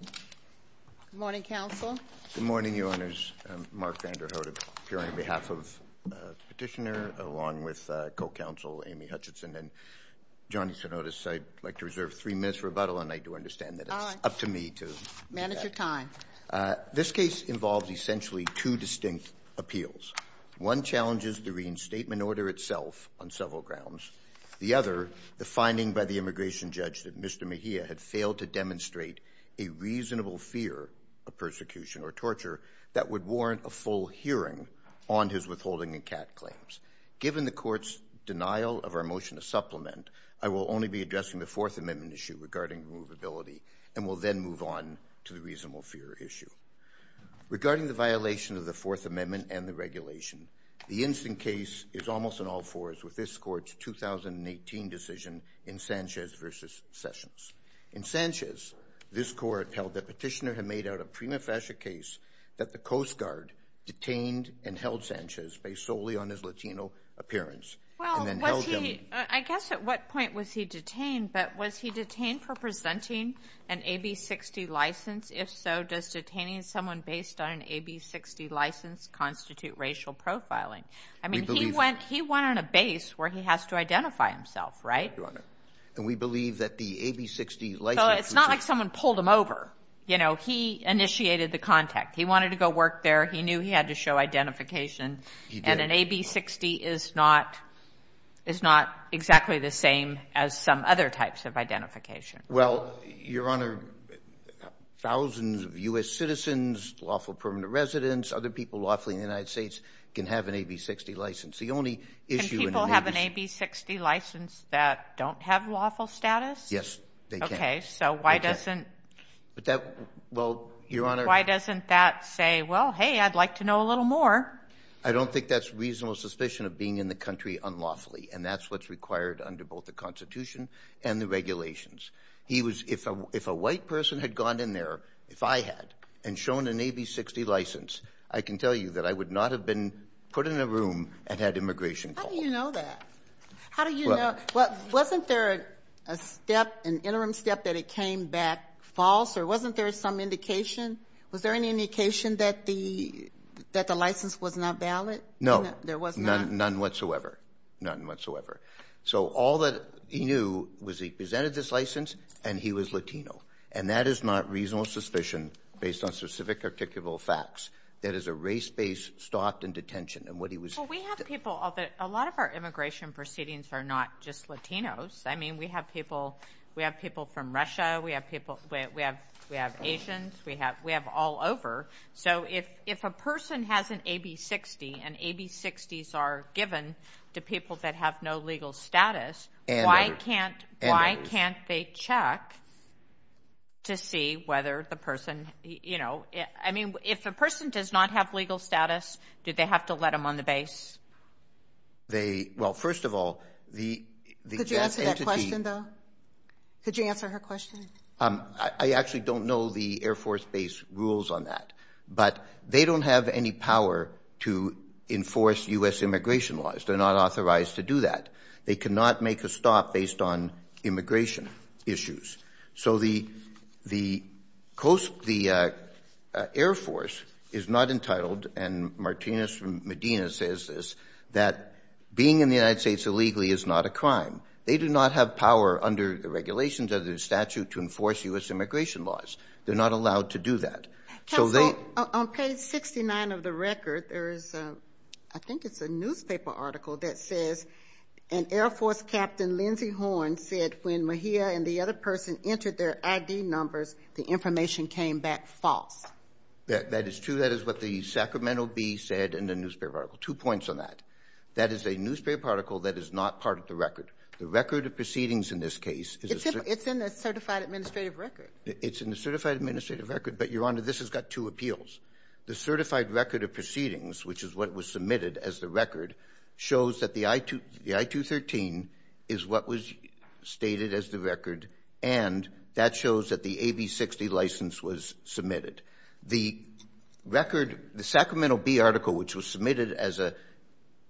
Good morning counsel. Good morning your honors. Mark Vanderhoof here on behalf of the petitioner along with co-counsel Amy Hutchinson and Johnny Stenotis. I'd like to reserve three minutes for rebuttal and I do understand that it's up to me to manage your time. This case involves essentially two distinct appeals. One challenges the reinstatement order itself on several grounds. The other, the finding by the immigration judge that Mr. Mejia had failed to demonstrate a reasonable fear of persecution or torture that would warrant a full hearing on his withholding and CAT claims. Given the court's denial of our motion to supplement, I will only be addressing the Fourth Amendment issue regarding removability and will then move on to the reasonable fear issue. Regarding the violation of the Fourth Amendment and the regulation, the instant case is almost an all-fours with this court's 2018 decision in Sanchez v. Sessions. In Sanchez, this court held that petitioner had made out a prima facie case that the Coast Guard detained and held Sanchez based solely on his Latino appearance and then held him. I guess at what point was he detained, but was he detained for presenting an AB-60 license? If so, does detaining someone based on an AB-60 license constitute racial profiling? I mean, he went on a base where he has to identify himself, right? Your Honor, and we believe that the AB-60 license was... Well, it's not like someone pulled him over. You know, he initiated the contact. He wanted to go work there. He knew he had to show identification, and an AB-60 is not exactly the same as some other types of identification. Well, Your Honor, thousands of U.S. citizens, lawful permanent residents, other people lawfully in the United States can have an AB-60 license. The only issue in the Navy... Can people have an AB-60 license that don't have lawful status? Yes, they can. Okay, so why doesn't... But that, well, Your Honor... Why doesn't that say, well, hey, I'd like to know a little more? I don't think that's reasonable suspicion of being in the country unlawfully, and that's what's required under both the Constitution and the regulations. He was... If a white person had gone in there, if I had, and shown an AB-60 license, I can tell you that I would not have been put in a room and had immigration call. How do you know that? How do you know? Wasn't there a step, an interim step that it came back false, or wasn't there some indication? Was there any indication that the license was not valid? No. There was not? None whatsoever. None whatsoever. So all that he knew was he presented this license, and he was Latino, and that is not reasonable suspicion based on specific articulable facts. That is a race-based stop and detention, and what he was... Well, we have people... A lot of our immigration proceedings are not just Latinos. I mean, we have people from Russia, we have Asians, we have all over. So if a person has an AB-60, and AB-60s are given to people that have no legal status, why can't they check to see whether the person... I mean, if a person does not have legal status, do they have to let them on the base? They... Well, first of all, the... Could you answer that question, though? Could you answer her question? I actually don't know the Air Force base rules on that, but they don't have any power to enforce U.S. immigration laws. They're not authorized to do that. They cannot make a stop based on immigration issues. So the Air Force is not entitled, and Martinez from Medina says this, that being in the United States illegally is not a crime. They do not have power under the regulations of the statute to enforce U.S. immigration laws. They're not allowed to do that. So they... On page 69 of the record, there is a... I think it's a newspaper article that says, an Air Force Captain, Lindsey Horne, said when Mejia and the other person entered their ID numbers, the information came back false. That is true. That is what the Sacramento Bee said in the newspaper article. Two points on that. That is a newspaper article that is not part of the record. The record of proceedings in this case is a... It's in the certified administrative record. It's in the certified administrative record, but, Your Honor, this has got two appeals. The certified record of proceedings, which is what was submitted as the record, shows that the I-213 is what was stated as the record, and that shows that the AB-60 license was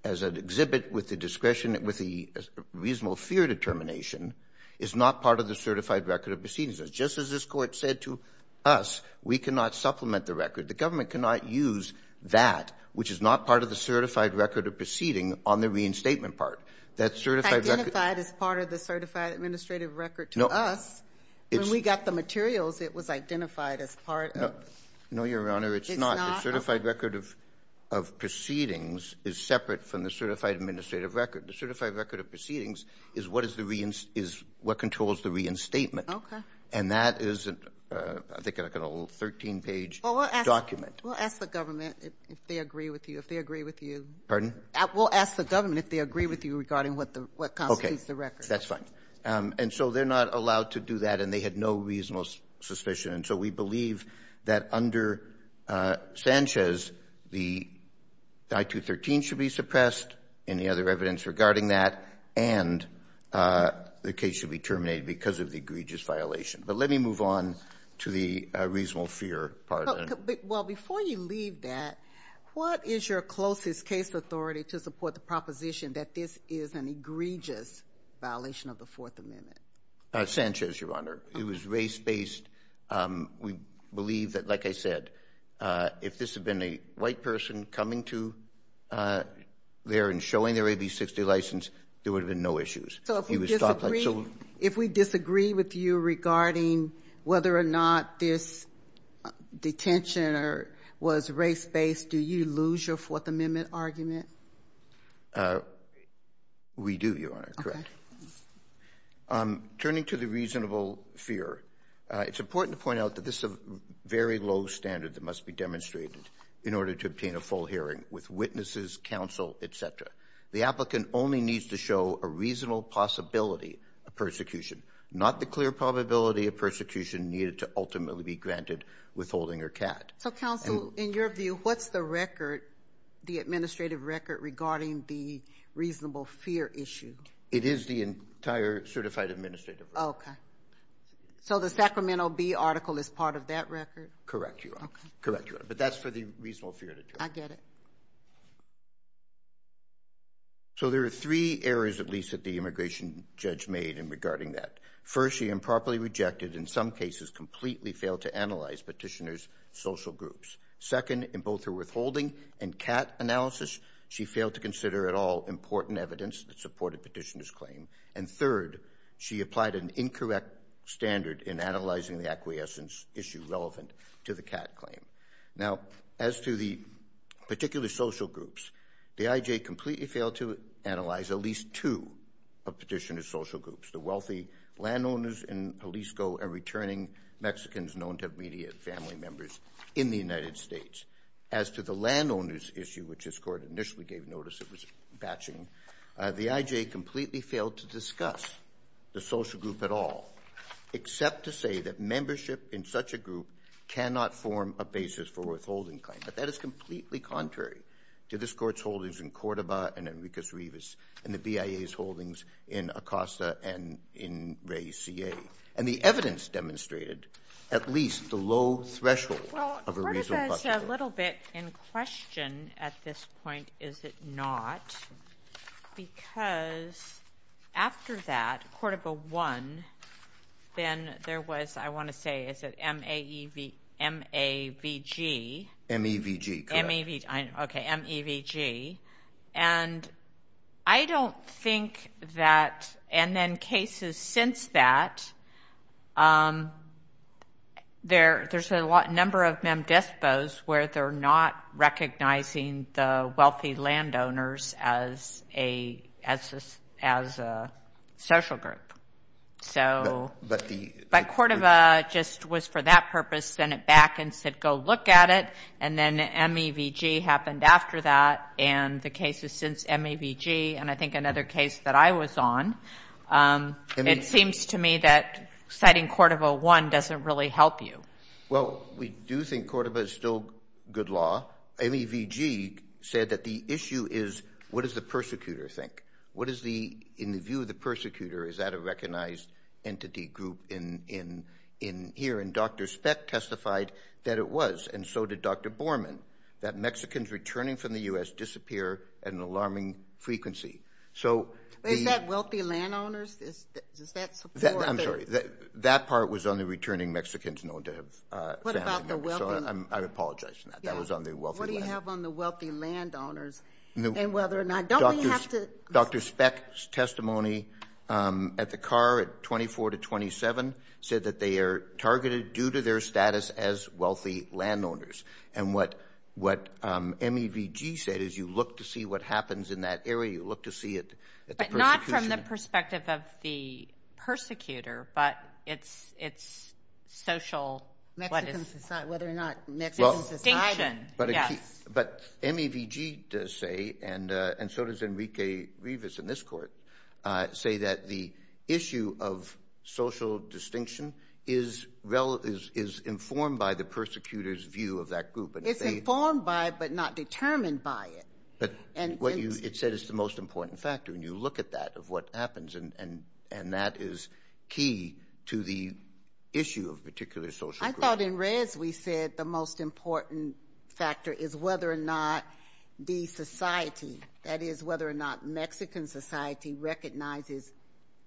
as an exhibit with the discretion, with the reasonable fear determination, is not part of the certified record of proceedings. Just as this Court said to us, we cannot supplement the record. The government cannot use that, which is not part of the certified record of proceeding, on the reinstatement part. That certified record... Identified as part of the certified administrative record to us, when we got the materials, it was identified as part of... Separate from the certified administrative record. The certified record of proceedings is what controls the reinstatement, and that is, I think, like a little 13-page document. Well, we'll ask the government if they agree with you, if they agree with you. Pardon? We'll ask the government if they agree with you regarding what constitutes the record. Okay. That's fine. And so they're not allowed to do that, and they had no reasonable suspicion, and so we believe that under Sanchez, the I-213 should be suppressed, any other evidence regarding that, and the case should be terminated because of the egregious violation. But let me move on to the reasonable fear part of that. Well, before you leave that, what is your closest case authority to support the proposition that this is an egregious violation of the Fourth Amendment? Sanchez, Your Honor. He was race-based. We believe that, like I said, if this had been a white person coming to there and showing their AB-60 license, there would have been no issues. So if we disagree with you regarding whether or not this detention was race-based, do you lose your Fourth Amendment argument? We do, Your Honor. Correct. Turning to the reasonable fear, it's important to point out that this is a very low standard that must be demonstrated in order to obtain a full hearing with witnesses, counsel, etc. The applicant only needs to show a reasonable possibility of persecution, not the clear probability of persecution needed to ultimately be granted withholding or CAD. So counsel, in your view, what's the record, the administrative record, regarding the reasonable fear issue? It is the entire certified administrative record. Okay. So the Sacramento Bee article is part of that record? Correct, Your Honor. Correct, Your Honor. But that's for the reasonable fear to try. I get it. So there are three errors, at least, that the immigration judge made in regarding that. First, she improperly rejected, in some cases, completely failed to analyze petitioners' social groups. Second, in both her withholding and CAD analysis, she failed to consider at least two important evidence that supported petitioner's claim. And third, she applied an incorrect standard in analyzing the acquiescence issue relevant to the CAD claim. Now, as to the particular social groups, the IJ completely failed to analyze at least two of petitioner's social groups, the wealthy landowners in Jalisco and returning Mexicans known to immediate family members in the United States. As to the landowner's issue, which this Court initially gave notice it was batching, the IJ completely failed to discuss the social group at all, except to say that membership in such a group cannot form a basis for withholding claim. But that is completely contrary to this Court's holdings in Cordoba and Enriquez-Rivas and the BIA's holdings in Acosta and in Ray CA. And the evidence demonstrated at least the low threshold of a reasonable possibility. It's a little bit in question at this point, is it not? Because after that, Cordoba won, then there was, I want to say, is it M-A-V-G? M-E-V-G, correct. Okay, M-E-V-G. And I don't know what number of M-D-I-S-P-O's where they're not recognizing the wealthy landowners as a social group. So, but Cordoba just was for that purpose, sent it back and said go look at it and then M-E-V-G happened after that and the cases since M-E-V-G and I think another case that I was on. It seems to me that citing Cordoba won doesn't really help you. Well, we do think Cordoba is still good law. M-E-V-G said that the issue is what does the persecutor think? What is the, in the view of the persecutor, is that a recognized entity group in here? And Dr. Speck testified that it was and so did Dr. Borman, that Mexicans returning from the U.S. disappear at an alarming frequency. So, is that wealthy landowners? Is that support That part was on the returning Mexicans known to have family members. So, I apologize for that. That was on the wealthy landowners. What do you have on the wealthy landowners and whether or not, don't we have to? Dr. Speck's testimony at the car at 24 to 27 said that they are targeted due to their status as wealthy landowners. And what M-E-V-G said is you look to see what happens in that area. You look to see it. But not from the perspective of the persecutor, but it's social distinction. But M-E-V-G does say, and so does Enrique Rivas in this court, say that the issue of social distinction is informed by the persecutor's view of that group. It's informed by, but not determined by it. It said it's the most important, and that is key to the issue of particular social groups. I thought in Reyes we said the most important factor is whether or not the society, that is whether or not Mexican society recognizes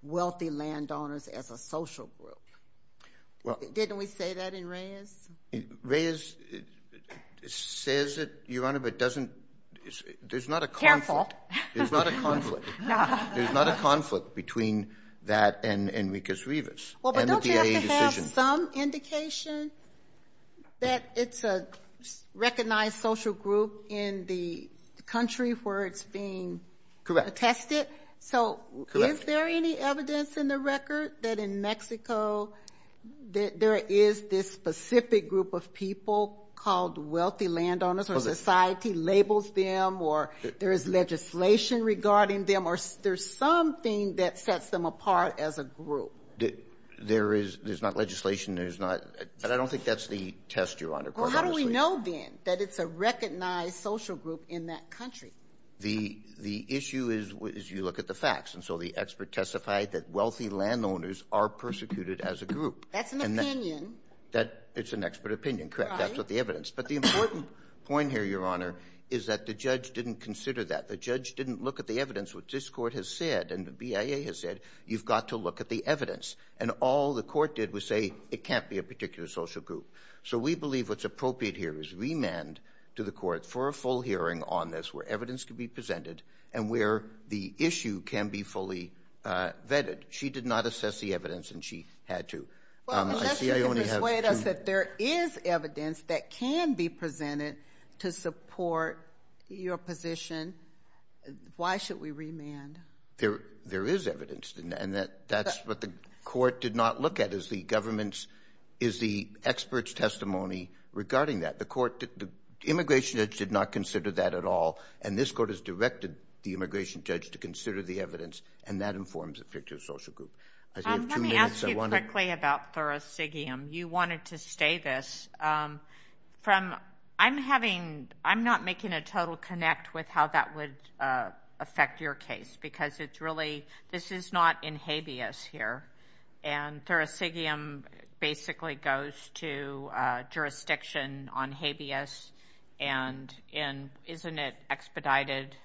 wealthy landowners as a social group. Didn't we say that in Reyes? Reyes says it, Your Honor, but doesn't, there's not a conflict. Careful. There's not a conflict. There's not a conflict between that and Enrique Rivas. Well, but don't you have to have some indication that it's a recognized social group in the country where it's being attested? Correct. So is there any evidence in the record that in Mexico there is this specific group of people called wealthy landowners, or society labels them, or there is legislation regarding them, or there's something that sets them apart as a group? There is. There's not legislation. There's not. But I don't think that's the test, Your Honor. Well, how do we know, then, that it's a recognized social group in that country? The issue is you look at the facts. And so the expert testified that wealthy landowners are persecuted as a group. That's an opinion. That's an expert opinion. Correct. That's what the evidence. But the important point here, Your Honor, is that the judge didn't consider that. The judge didn't look at the evidence. What this Court has said, and the BIA has said, you've got to look at the evidence. And all the Court did was say it can't be a particular social group. So we believe what's appropriate here is remand to the Court for a full hearing on this, where evidence can be presented and where the issue can be fully vetted. She did not assess the evidence, and she had to. Well, unless you can persuade us that there is evidence that can be presented to support your position, why should we remand? There is evidence. And that's what the Court did not look at, is the government's, is the expert's testimony regarding that. The Immigration Judge did not consider that at all. And this Court has directed the Immigration Judge to consider the evidence. And that informs a particular social group. Let me ask you quickly about thoracicium. You wanted to stay this. I'm not making a total connect with how that would affect your case, because it's really, this is not in habeas here. And thoracicium basically goes to jurisdiction on habeas. And isn't it expedited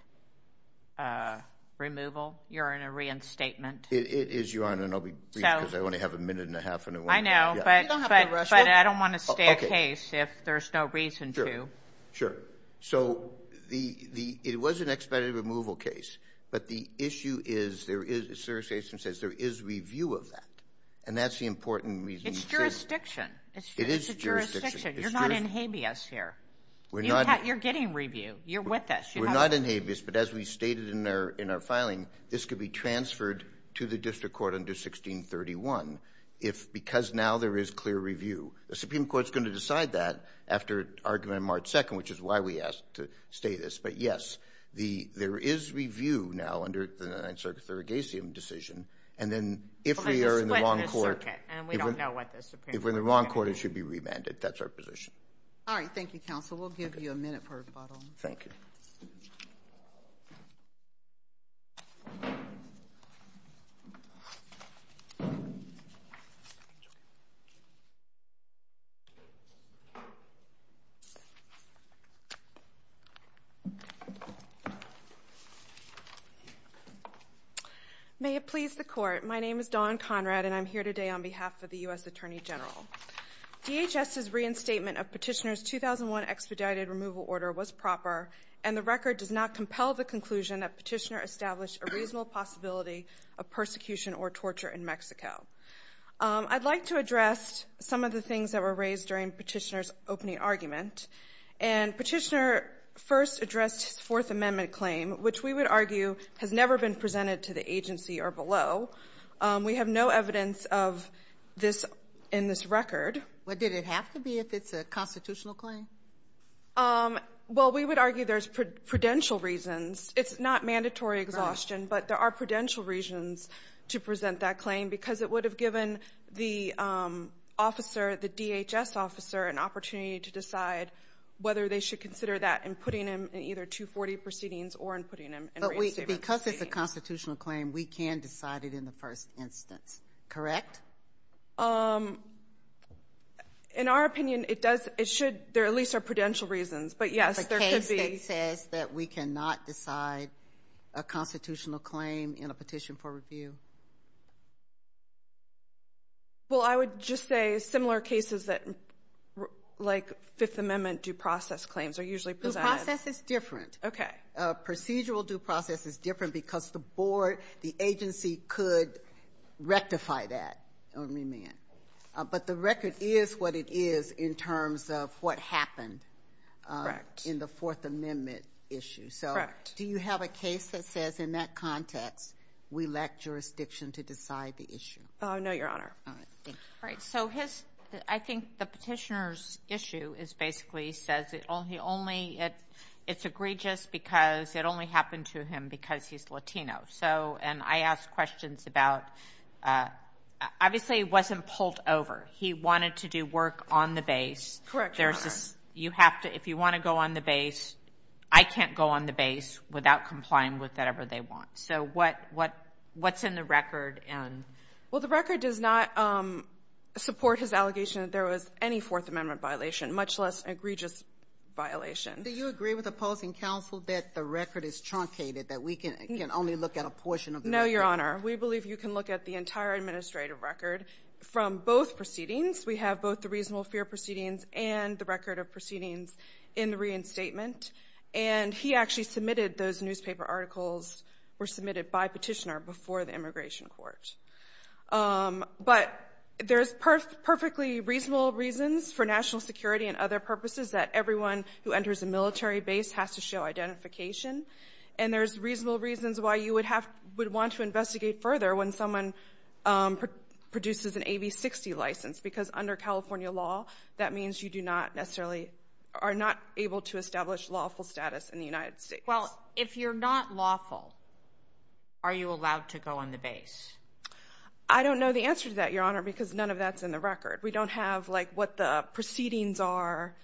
removal? You're in a reinstatement. It is, Your Honor, and I'll be brief, because I only have a minute and a half. I know, but I don't want to stay a case if there's no reason to. Sure, sure. So it was an expedited removal case, but the issue is, there is review of that. And that's the important reason. It's jurisdiction. It's jurisdiction. You're not in habeas here. You're getting review. You're with us. We're not in habeas, but as we stated in our filing, this could be transferred to the District Court under 1631, because now there is clear review. The Supreme Court's going to decide that after argument on March 2nd, which is why we asked to stay this. But yes, there is review now under the Ninth Circuit thoracicium decision. And then if we are in the wrong court, if we're in the wrong court, it should be remanded. That's our position. All right. Thank you, Counsel. We'll give you a minute for rebuttal. Thank you. May it please the Court, my name is Dawn Conrad, and I'm here today on behalf of the U.S. Attorney General. DHS's reinstatement of Petitioner's 2001 expedited removal order was proper, and the record does not compel the conclusion that Petitioner established a reasonable possibility of persecution or torture in Mexico. I'd like to address some of the things that were raised during Petitioner's opening argument. And Petitioner first addressed his Fourth Amendment claim, which we would argue has never been presented to the agency or below. We have no evidence of this in this record. Well, did it have to be if it's a constitutional claim? Well, we would argue there's prudential reasons. It's not mandatory exhaustion, but there are prudential reasons to present that claim because it would have given the officer, the DHS officer, an opportunity to decide whether they should consider that in putting him in either 240 proceedings or in putting him in reinstatement proceedings. Because it's a constitutional claim, we can decide it in the first instance. Correct? In our opinion, it should. There at least are prudential reasons. But, yes, there could be. The case that says that we cannot decide a constitutional claim in a petition for review. Well, I would just say similar cases like Fifth Amendment due process claims are usually presented. Due process is different. Okay. Procedural due process is different because the board, the agency could rectify that or remand. But the record is what it is in terms of what happened in the Fourth Amendment issue. Correct. So do you have a case that says in that context we lack jurisdiction to decide the issue? All right. Thank you. All right. So I think the petitioner's issue is basically he says it's egregious because it only happened to him because he's Latino. And I asked questions about obviously he wasn't pulled over. He wanted to do work on the base. Correct. If you want to go on the base, I can't go on the base without complying with whatever they want. So what's in the record? Well, the record does not support his allegation that there was any Fourth Amendment violation, much less egregious violation. Do you agree with opposing counsel that the record is truncated, that we can only look at a portion of the record? No, Your Honor. We believe you can look at the entire administrative record from both proceedings. We have both the reasonable fear proceedings and the record of proceedings in the reinstatement. And he actually submitted those newspaper articles were submitted by petitioner before the immigration court. But there's perfectly reasonable reasons for national security and other purposes that everyone who enters a military base has to show identification. And there's reasonable reasons why you would want to investigate further when someone produces an AB-60 license, because under California law, that means you do not necessarily are not able to establish lawful status in the United States. Well, if you're not lawful, are you allowed to go on the base? I don't know the answer to that, Your Honor, because none of that's in the record. We don't have, like, what the proceedings are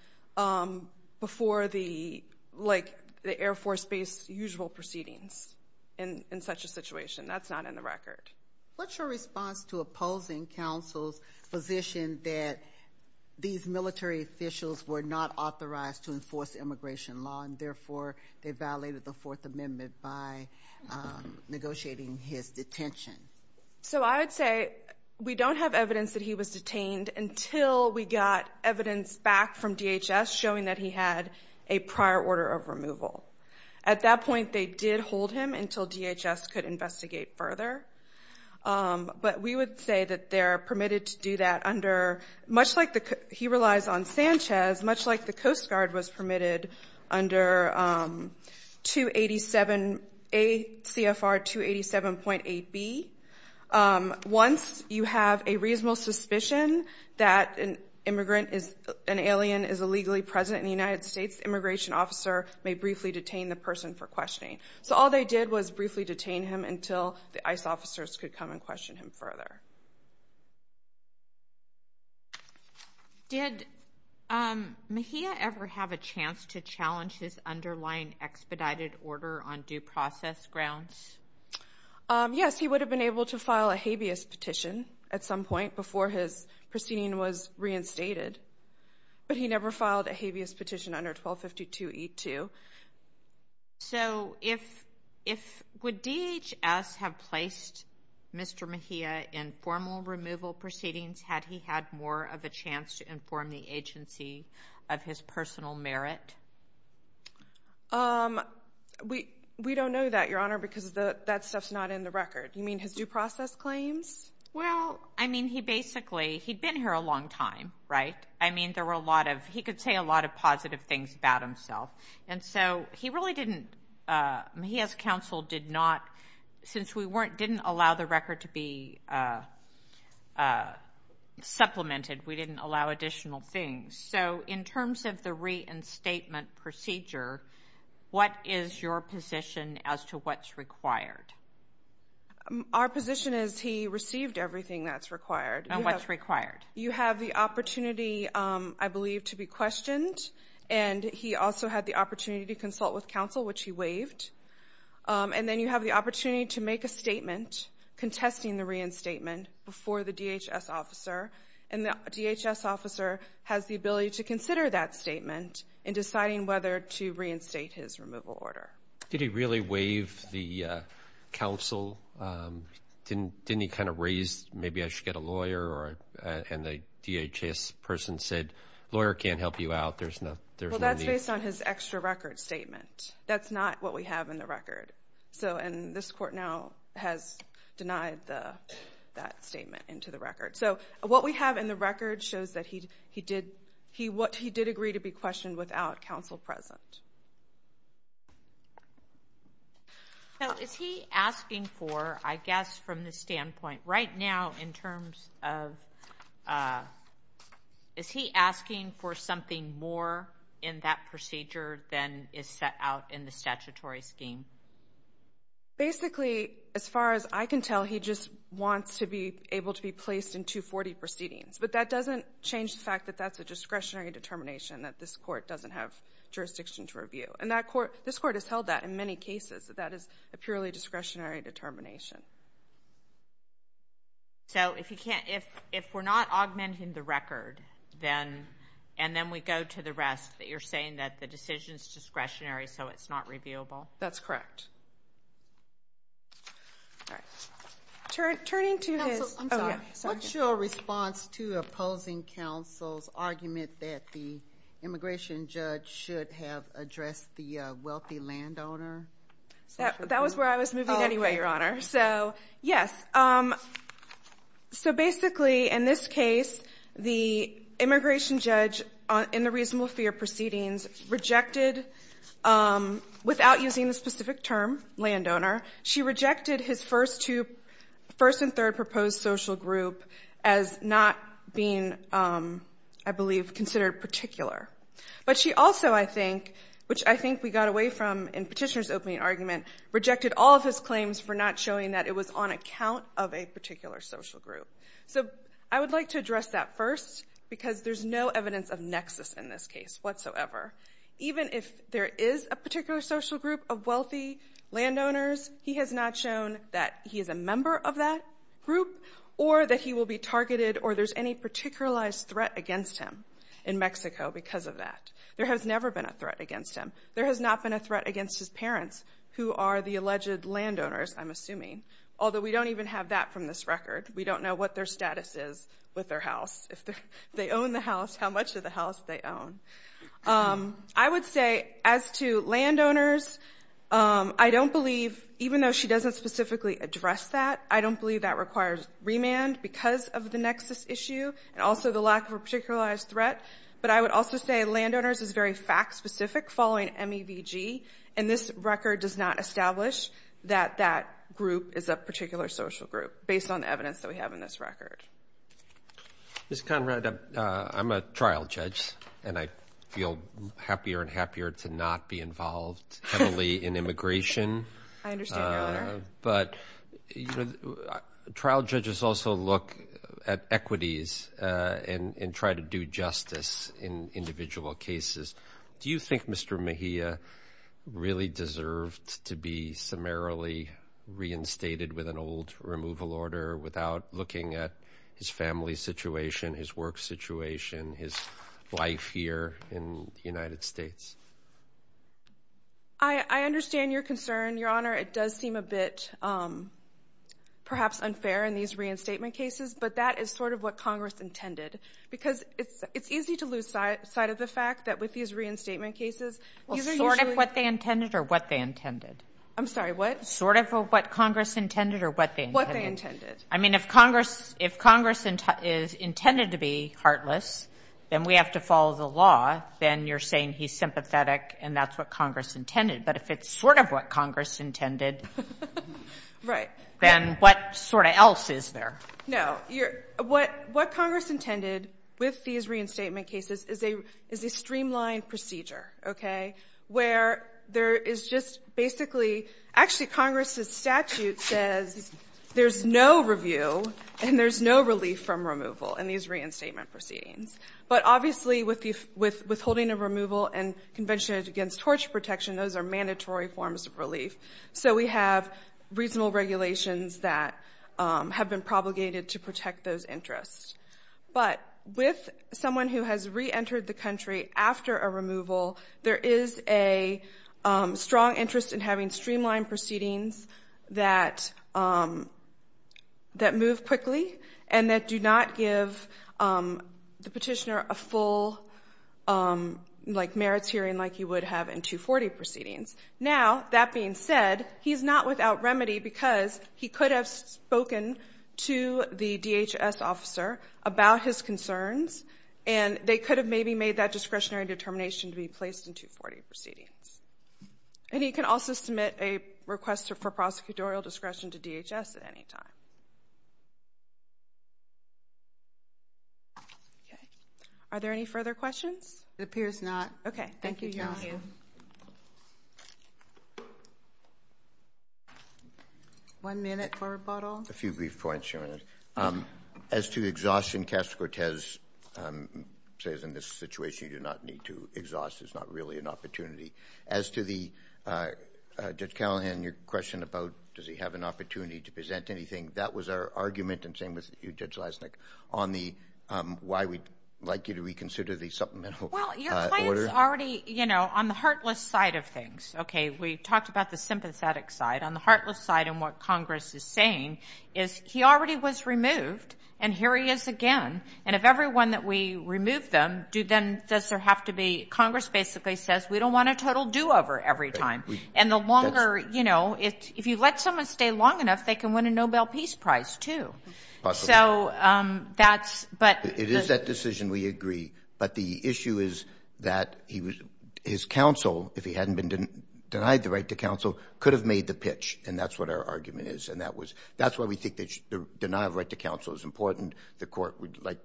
before the, like, the Air Force base usual proceedings in such a situation. That's not in the record. What's your response to opposing counsel's position that these military forces violated the Fourth Amendment by negotiating his detention? So I would say we don't have evidence that he was detained until we got evidence back from DHS showing that he had a prior order of removal. At that point, they did hold him until DHS could investigate further. But we would say that they're permitted to do that under, much like he relies on Sanchez, much like the Coast Guard was permitted under 287A CFR 287.8B. Once you have a reasonable suspicion that an immigrant is an alien is illegally present in the United States, the immigration officer may briefly detain the person for questioning. So all they did was briefly detain him until the ICE officers could come and question him further. Did Mejia ever have a chance to challenge his underlying expedited order on due process grounds? Yes, he would have been able to file a habeas petition at some point before his proceeding was reinstated. But he never filed a habeas petition under 1252E2. So would DHS have placed Mr. Mejia in formal removal proceedings had he had more of a chance to inform the agency of his personal merit? We don't know that, Your Honor, because that stuff's not in the record. You mean his due process claims? Well, I mean, he basically, he'd been here a long time, right? I mean, there were a lot of, he could say a lot of positive things about himself, and so he really didn't, he as counsel did not, since we didn't allow the record to be supplemented, we didn't allow additional things. So in terms of the reinstatement procedure, what is your position as to what's required? Our position is he received everything that's required. And what's required? You have the opportunity, I believe, to be questioned, and he also had the opportunity to consult with counsel, which he waived. And then you have the opportunity to make a statement contesting the reinstatement before the DHS officer, and the DHS officer has the ability to consider that statement in deciding whether to reinstate his removal order. Did he really waive the counsel? Didn't he kind of raise, maybe I should get a lawyer, and the DHS person said, lawyer can't help you out, there's no need? Well, that's based on his extra record statement. That's not what we have in the record. And this court now has denied that statement into the record. So what we have in the record shows that he did agree to be questioned without counsel present. Now, is he asking for, I guess, from the standpoint right now, in terms of is he asking for something more in that procedure than is set out in the statutory scheme? Basically, as far as I can tell, he just wants to be able to be placed in 240 proceedings. But that doesn't change the fact that that's a discretionary determination, that this court doesn't have jurisdiction to review. And this court has held that in many cases, that that is a purely discretionary determination. So if we're not augmenting the record, and then we go to the rest, that you're saying that the decision is discretionary so it's not reviewable? That's correct. All right. Turning to his ‑‑ Counsel, I'm sorry. What's your response to opposing counsel's argument that the immigration judge should have addressed the wealthy landowner? That was where I was moving anyway, Your Honor. Okay. So, yes. So basically, in this case, the immigration judge, in the reasonable fear proceedings, rejected, without using the specific term, landowner, she rejected his first two ‑‑ first and third proposed social group as not being, I believe, considered particular. But she also, I think, which I think we got away from in Petitioner's opening argument, rejected all of his claims for not showing that it was on account of a particular social group. So I would like to address that first, because there's no evidence of nexus in this case whatsoever. Even if there is a particular social group of wealthy landowners, he has not shown that he is a member of that group or that he will be targeted or there's any particularized threat against him in Mexico because of that. There has never been a threat against him. There has not been a threat against his parents, who are the alleged landowners, I'm assuming, although we don't even have that from this record. We don't know what their status is with their house. If they own the house, how much of the house they own. I would say as to landowners, I don't believe, even though she doesn't specifically address that, I don't believe that requires remand because of the nexus issue and also the lack of a particularized threat. But I would also say landowners is very fact‑specific following MEVG, and this record does not establish that that group is a particular social group based on the evidence that we have in this record. Ms. Conrad, I'm a trial judge, and I feel happier and happier to not be involved heavily in immigration. I understand, Your Honor. But trial judges also look at equities and try to do justice in individual cases. Do you think Mr. Mejia really deserved to be summarily reinstated with an old removal order without looking at his family situation, his work situation, his life here in the United States? I understand your concern, Your Honor. It does seem a bit perhaps unfair in these reinstatement cases, but that is sort of what Congress intended because it's easy to lose sight of the fact that with these reinstatement cases, these are usually ‑‑ Sort of what they intended or what they intended? I'm sorry, what? Sort of what Congress intended or what they intended? What they intended. I mean, if Congress is intended to be heartless, then we have to follow the law, then you're saying he's sympathetic and that's what Congress intended. But if it's sort of what Congress intended, then what sort of else is there? No. What Congress intended with these reinstatement cases is a streamlined procedure, okay, where there is just basically ‑‑ Actually, Congress's statute says there's no review and there's no relief from removal in these reinstatement proceedings. But obviously, with the withholding of removal and convention against torture protection, those are mandatory forms of relief. So we have reasonable regulations that have been propagated to protect those interests. But with someone who has reentered the country after a removal, there is a strong interest in having streamlined proceedings that move quickly and that do not give the petitioner a full, like, merits hearing like you would have in 240 proceedings. Now, that being said, he's not without remedy because he could have spoken to the DHS officer about his concerns and they could have maybe made that discretionary determination to be placed in 240 proceedings. And he can also submit a request for prosecutorial discretion to DHS at any time. Are there any further questions? It appears not. Okay. Thank you, Your Honor. Thank you. One minute for rebuttal. A few brief points, Your Honor. As to exhaustion, Caster Cortez says in this situation you do not need to exhaust. It's not really an opportunity. As to the Judge Callahan, your question about does he have an opportunity to present anything, that was our argument, and same with you, Judge Leisnick, on the why we'd like you to reconsider the supplemental order. Well, your client's already, you know, on the heartless side of things. Okay. We talked about the sympathetic side. On the heartless side and what Congress is saying is he already was removed, and here he is again. And if every one that we remove them, does there have to be, Congress basically says we don't want a total do-over every time. And the longer, you know, if you let someone stay long enough, they can win a Nobel Peace Prize too. Possibly. So that's, but. It is that decision, we agree. But the issue is that his counsel, if he hadn't been denied the right to counsel, could have made the pitch, and that's what our argument is. And that was, that's why we think the denial of right to counsel is important. The court would like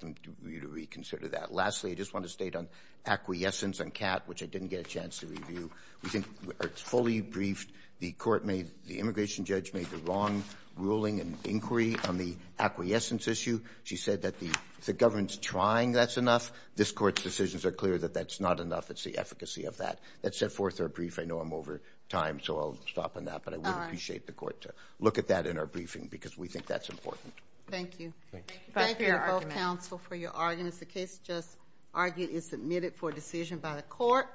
you to reconsider that. Lastly, I just want to state on acquiescence on CAT, which I didn't get a chance to review. We think it's fully briefed. The court made, the immigration judge made the wrong ruling and inquiry on the acquiescence issue. She said that the government's trying, that's enough. This court's decisions are clear that that's not enough. It's the efficacy of that. That set forth our brief. I know I'm over time, so I'll stop on that. But I would appreciate the court to look at that in our briefing because we think that's important. Thank you. Thank you both counsel for your arguments. The case just argued is submitted for decision by the court.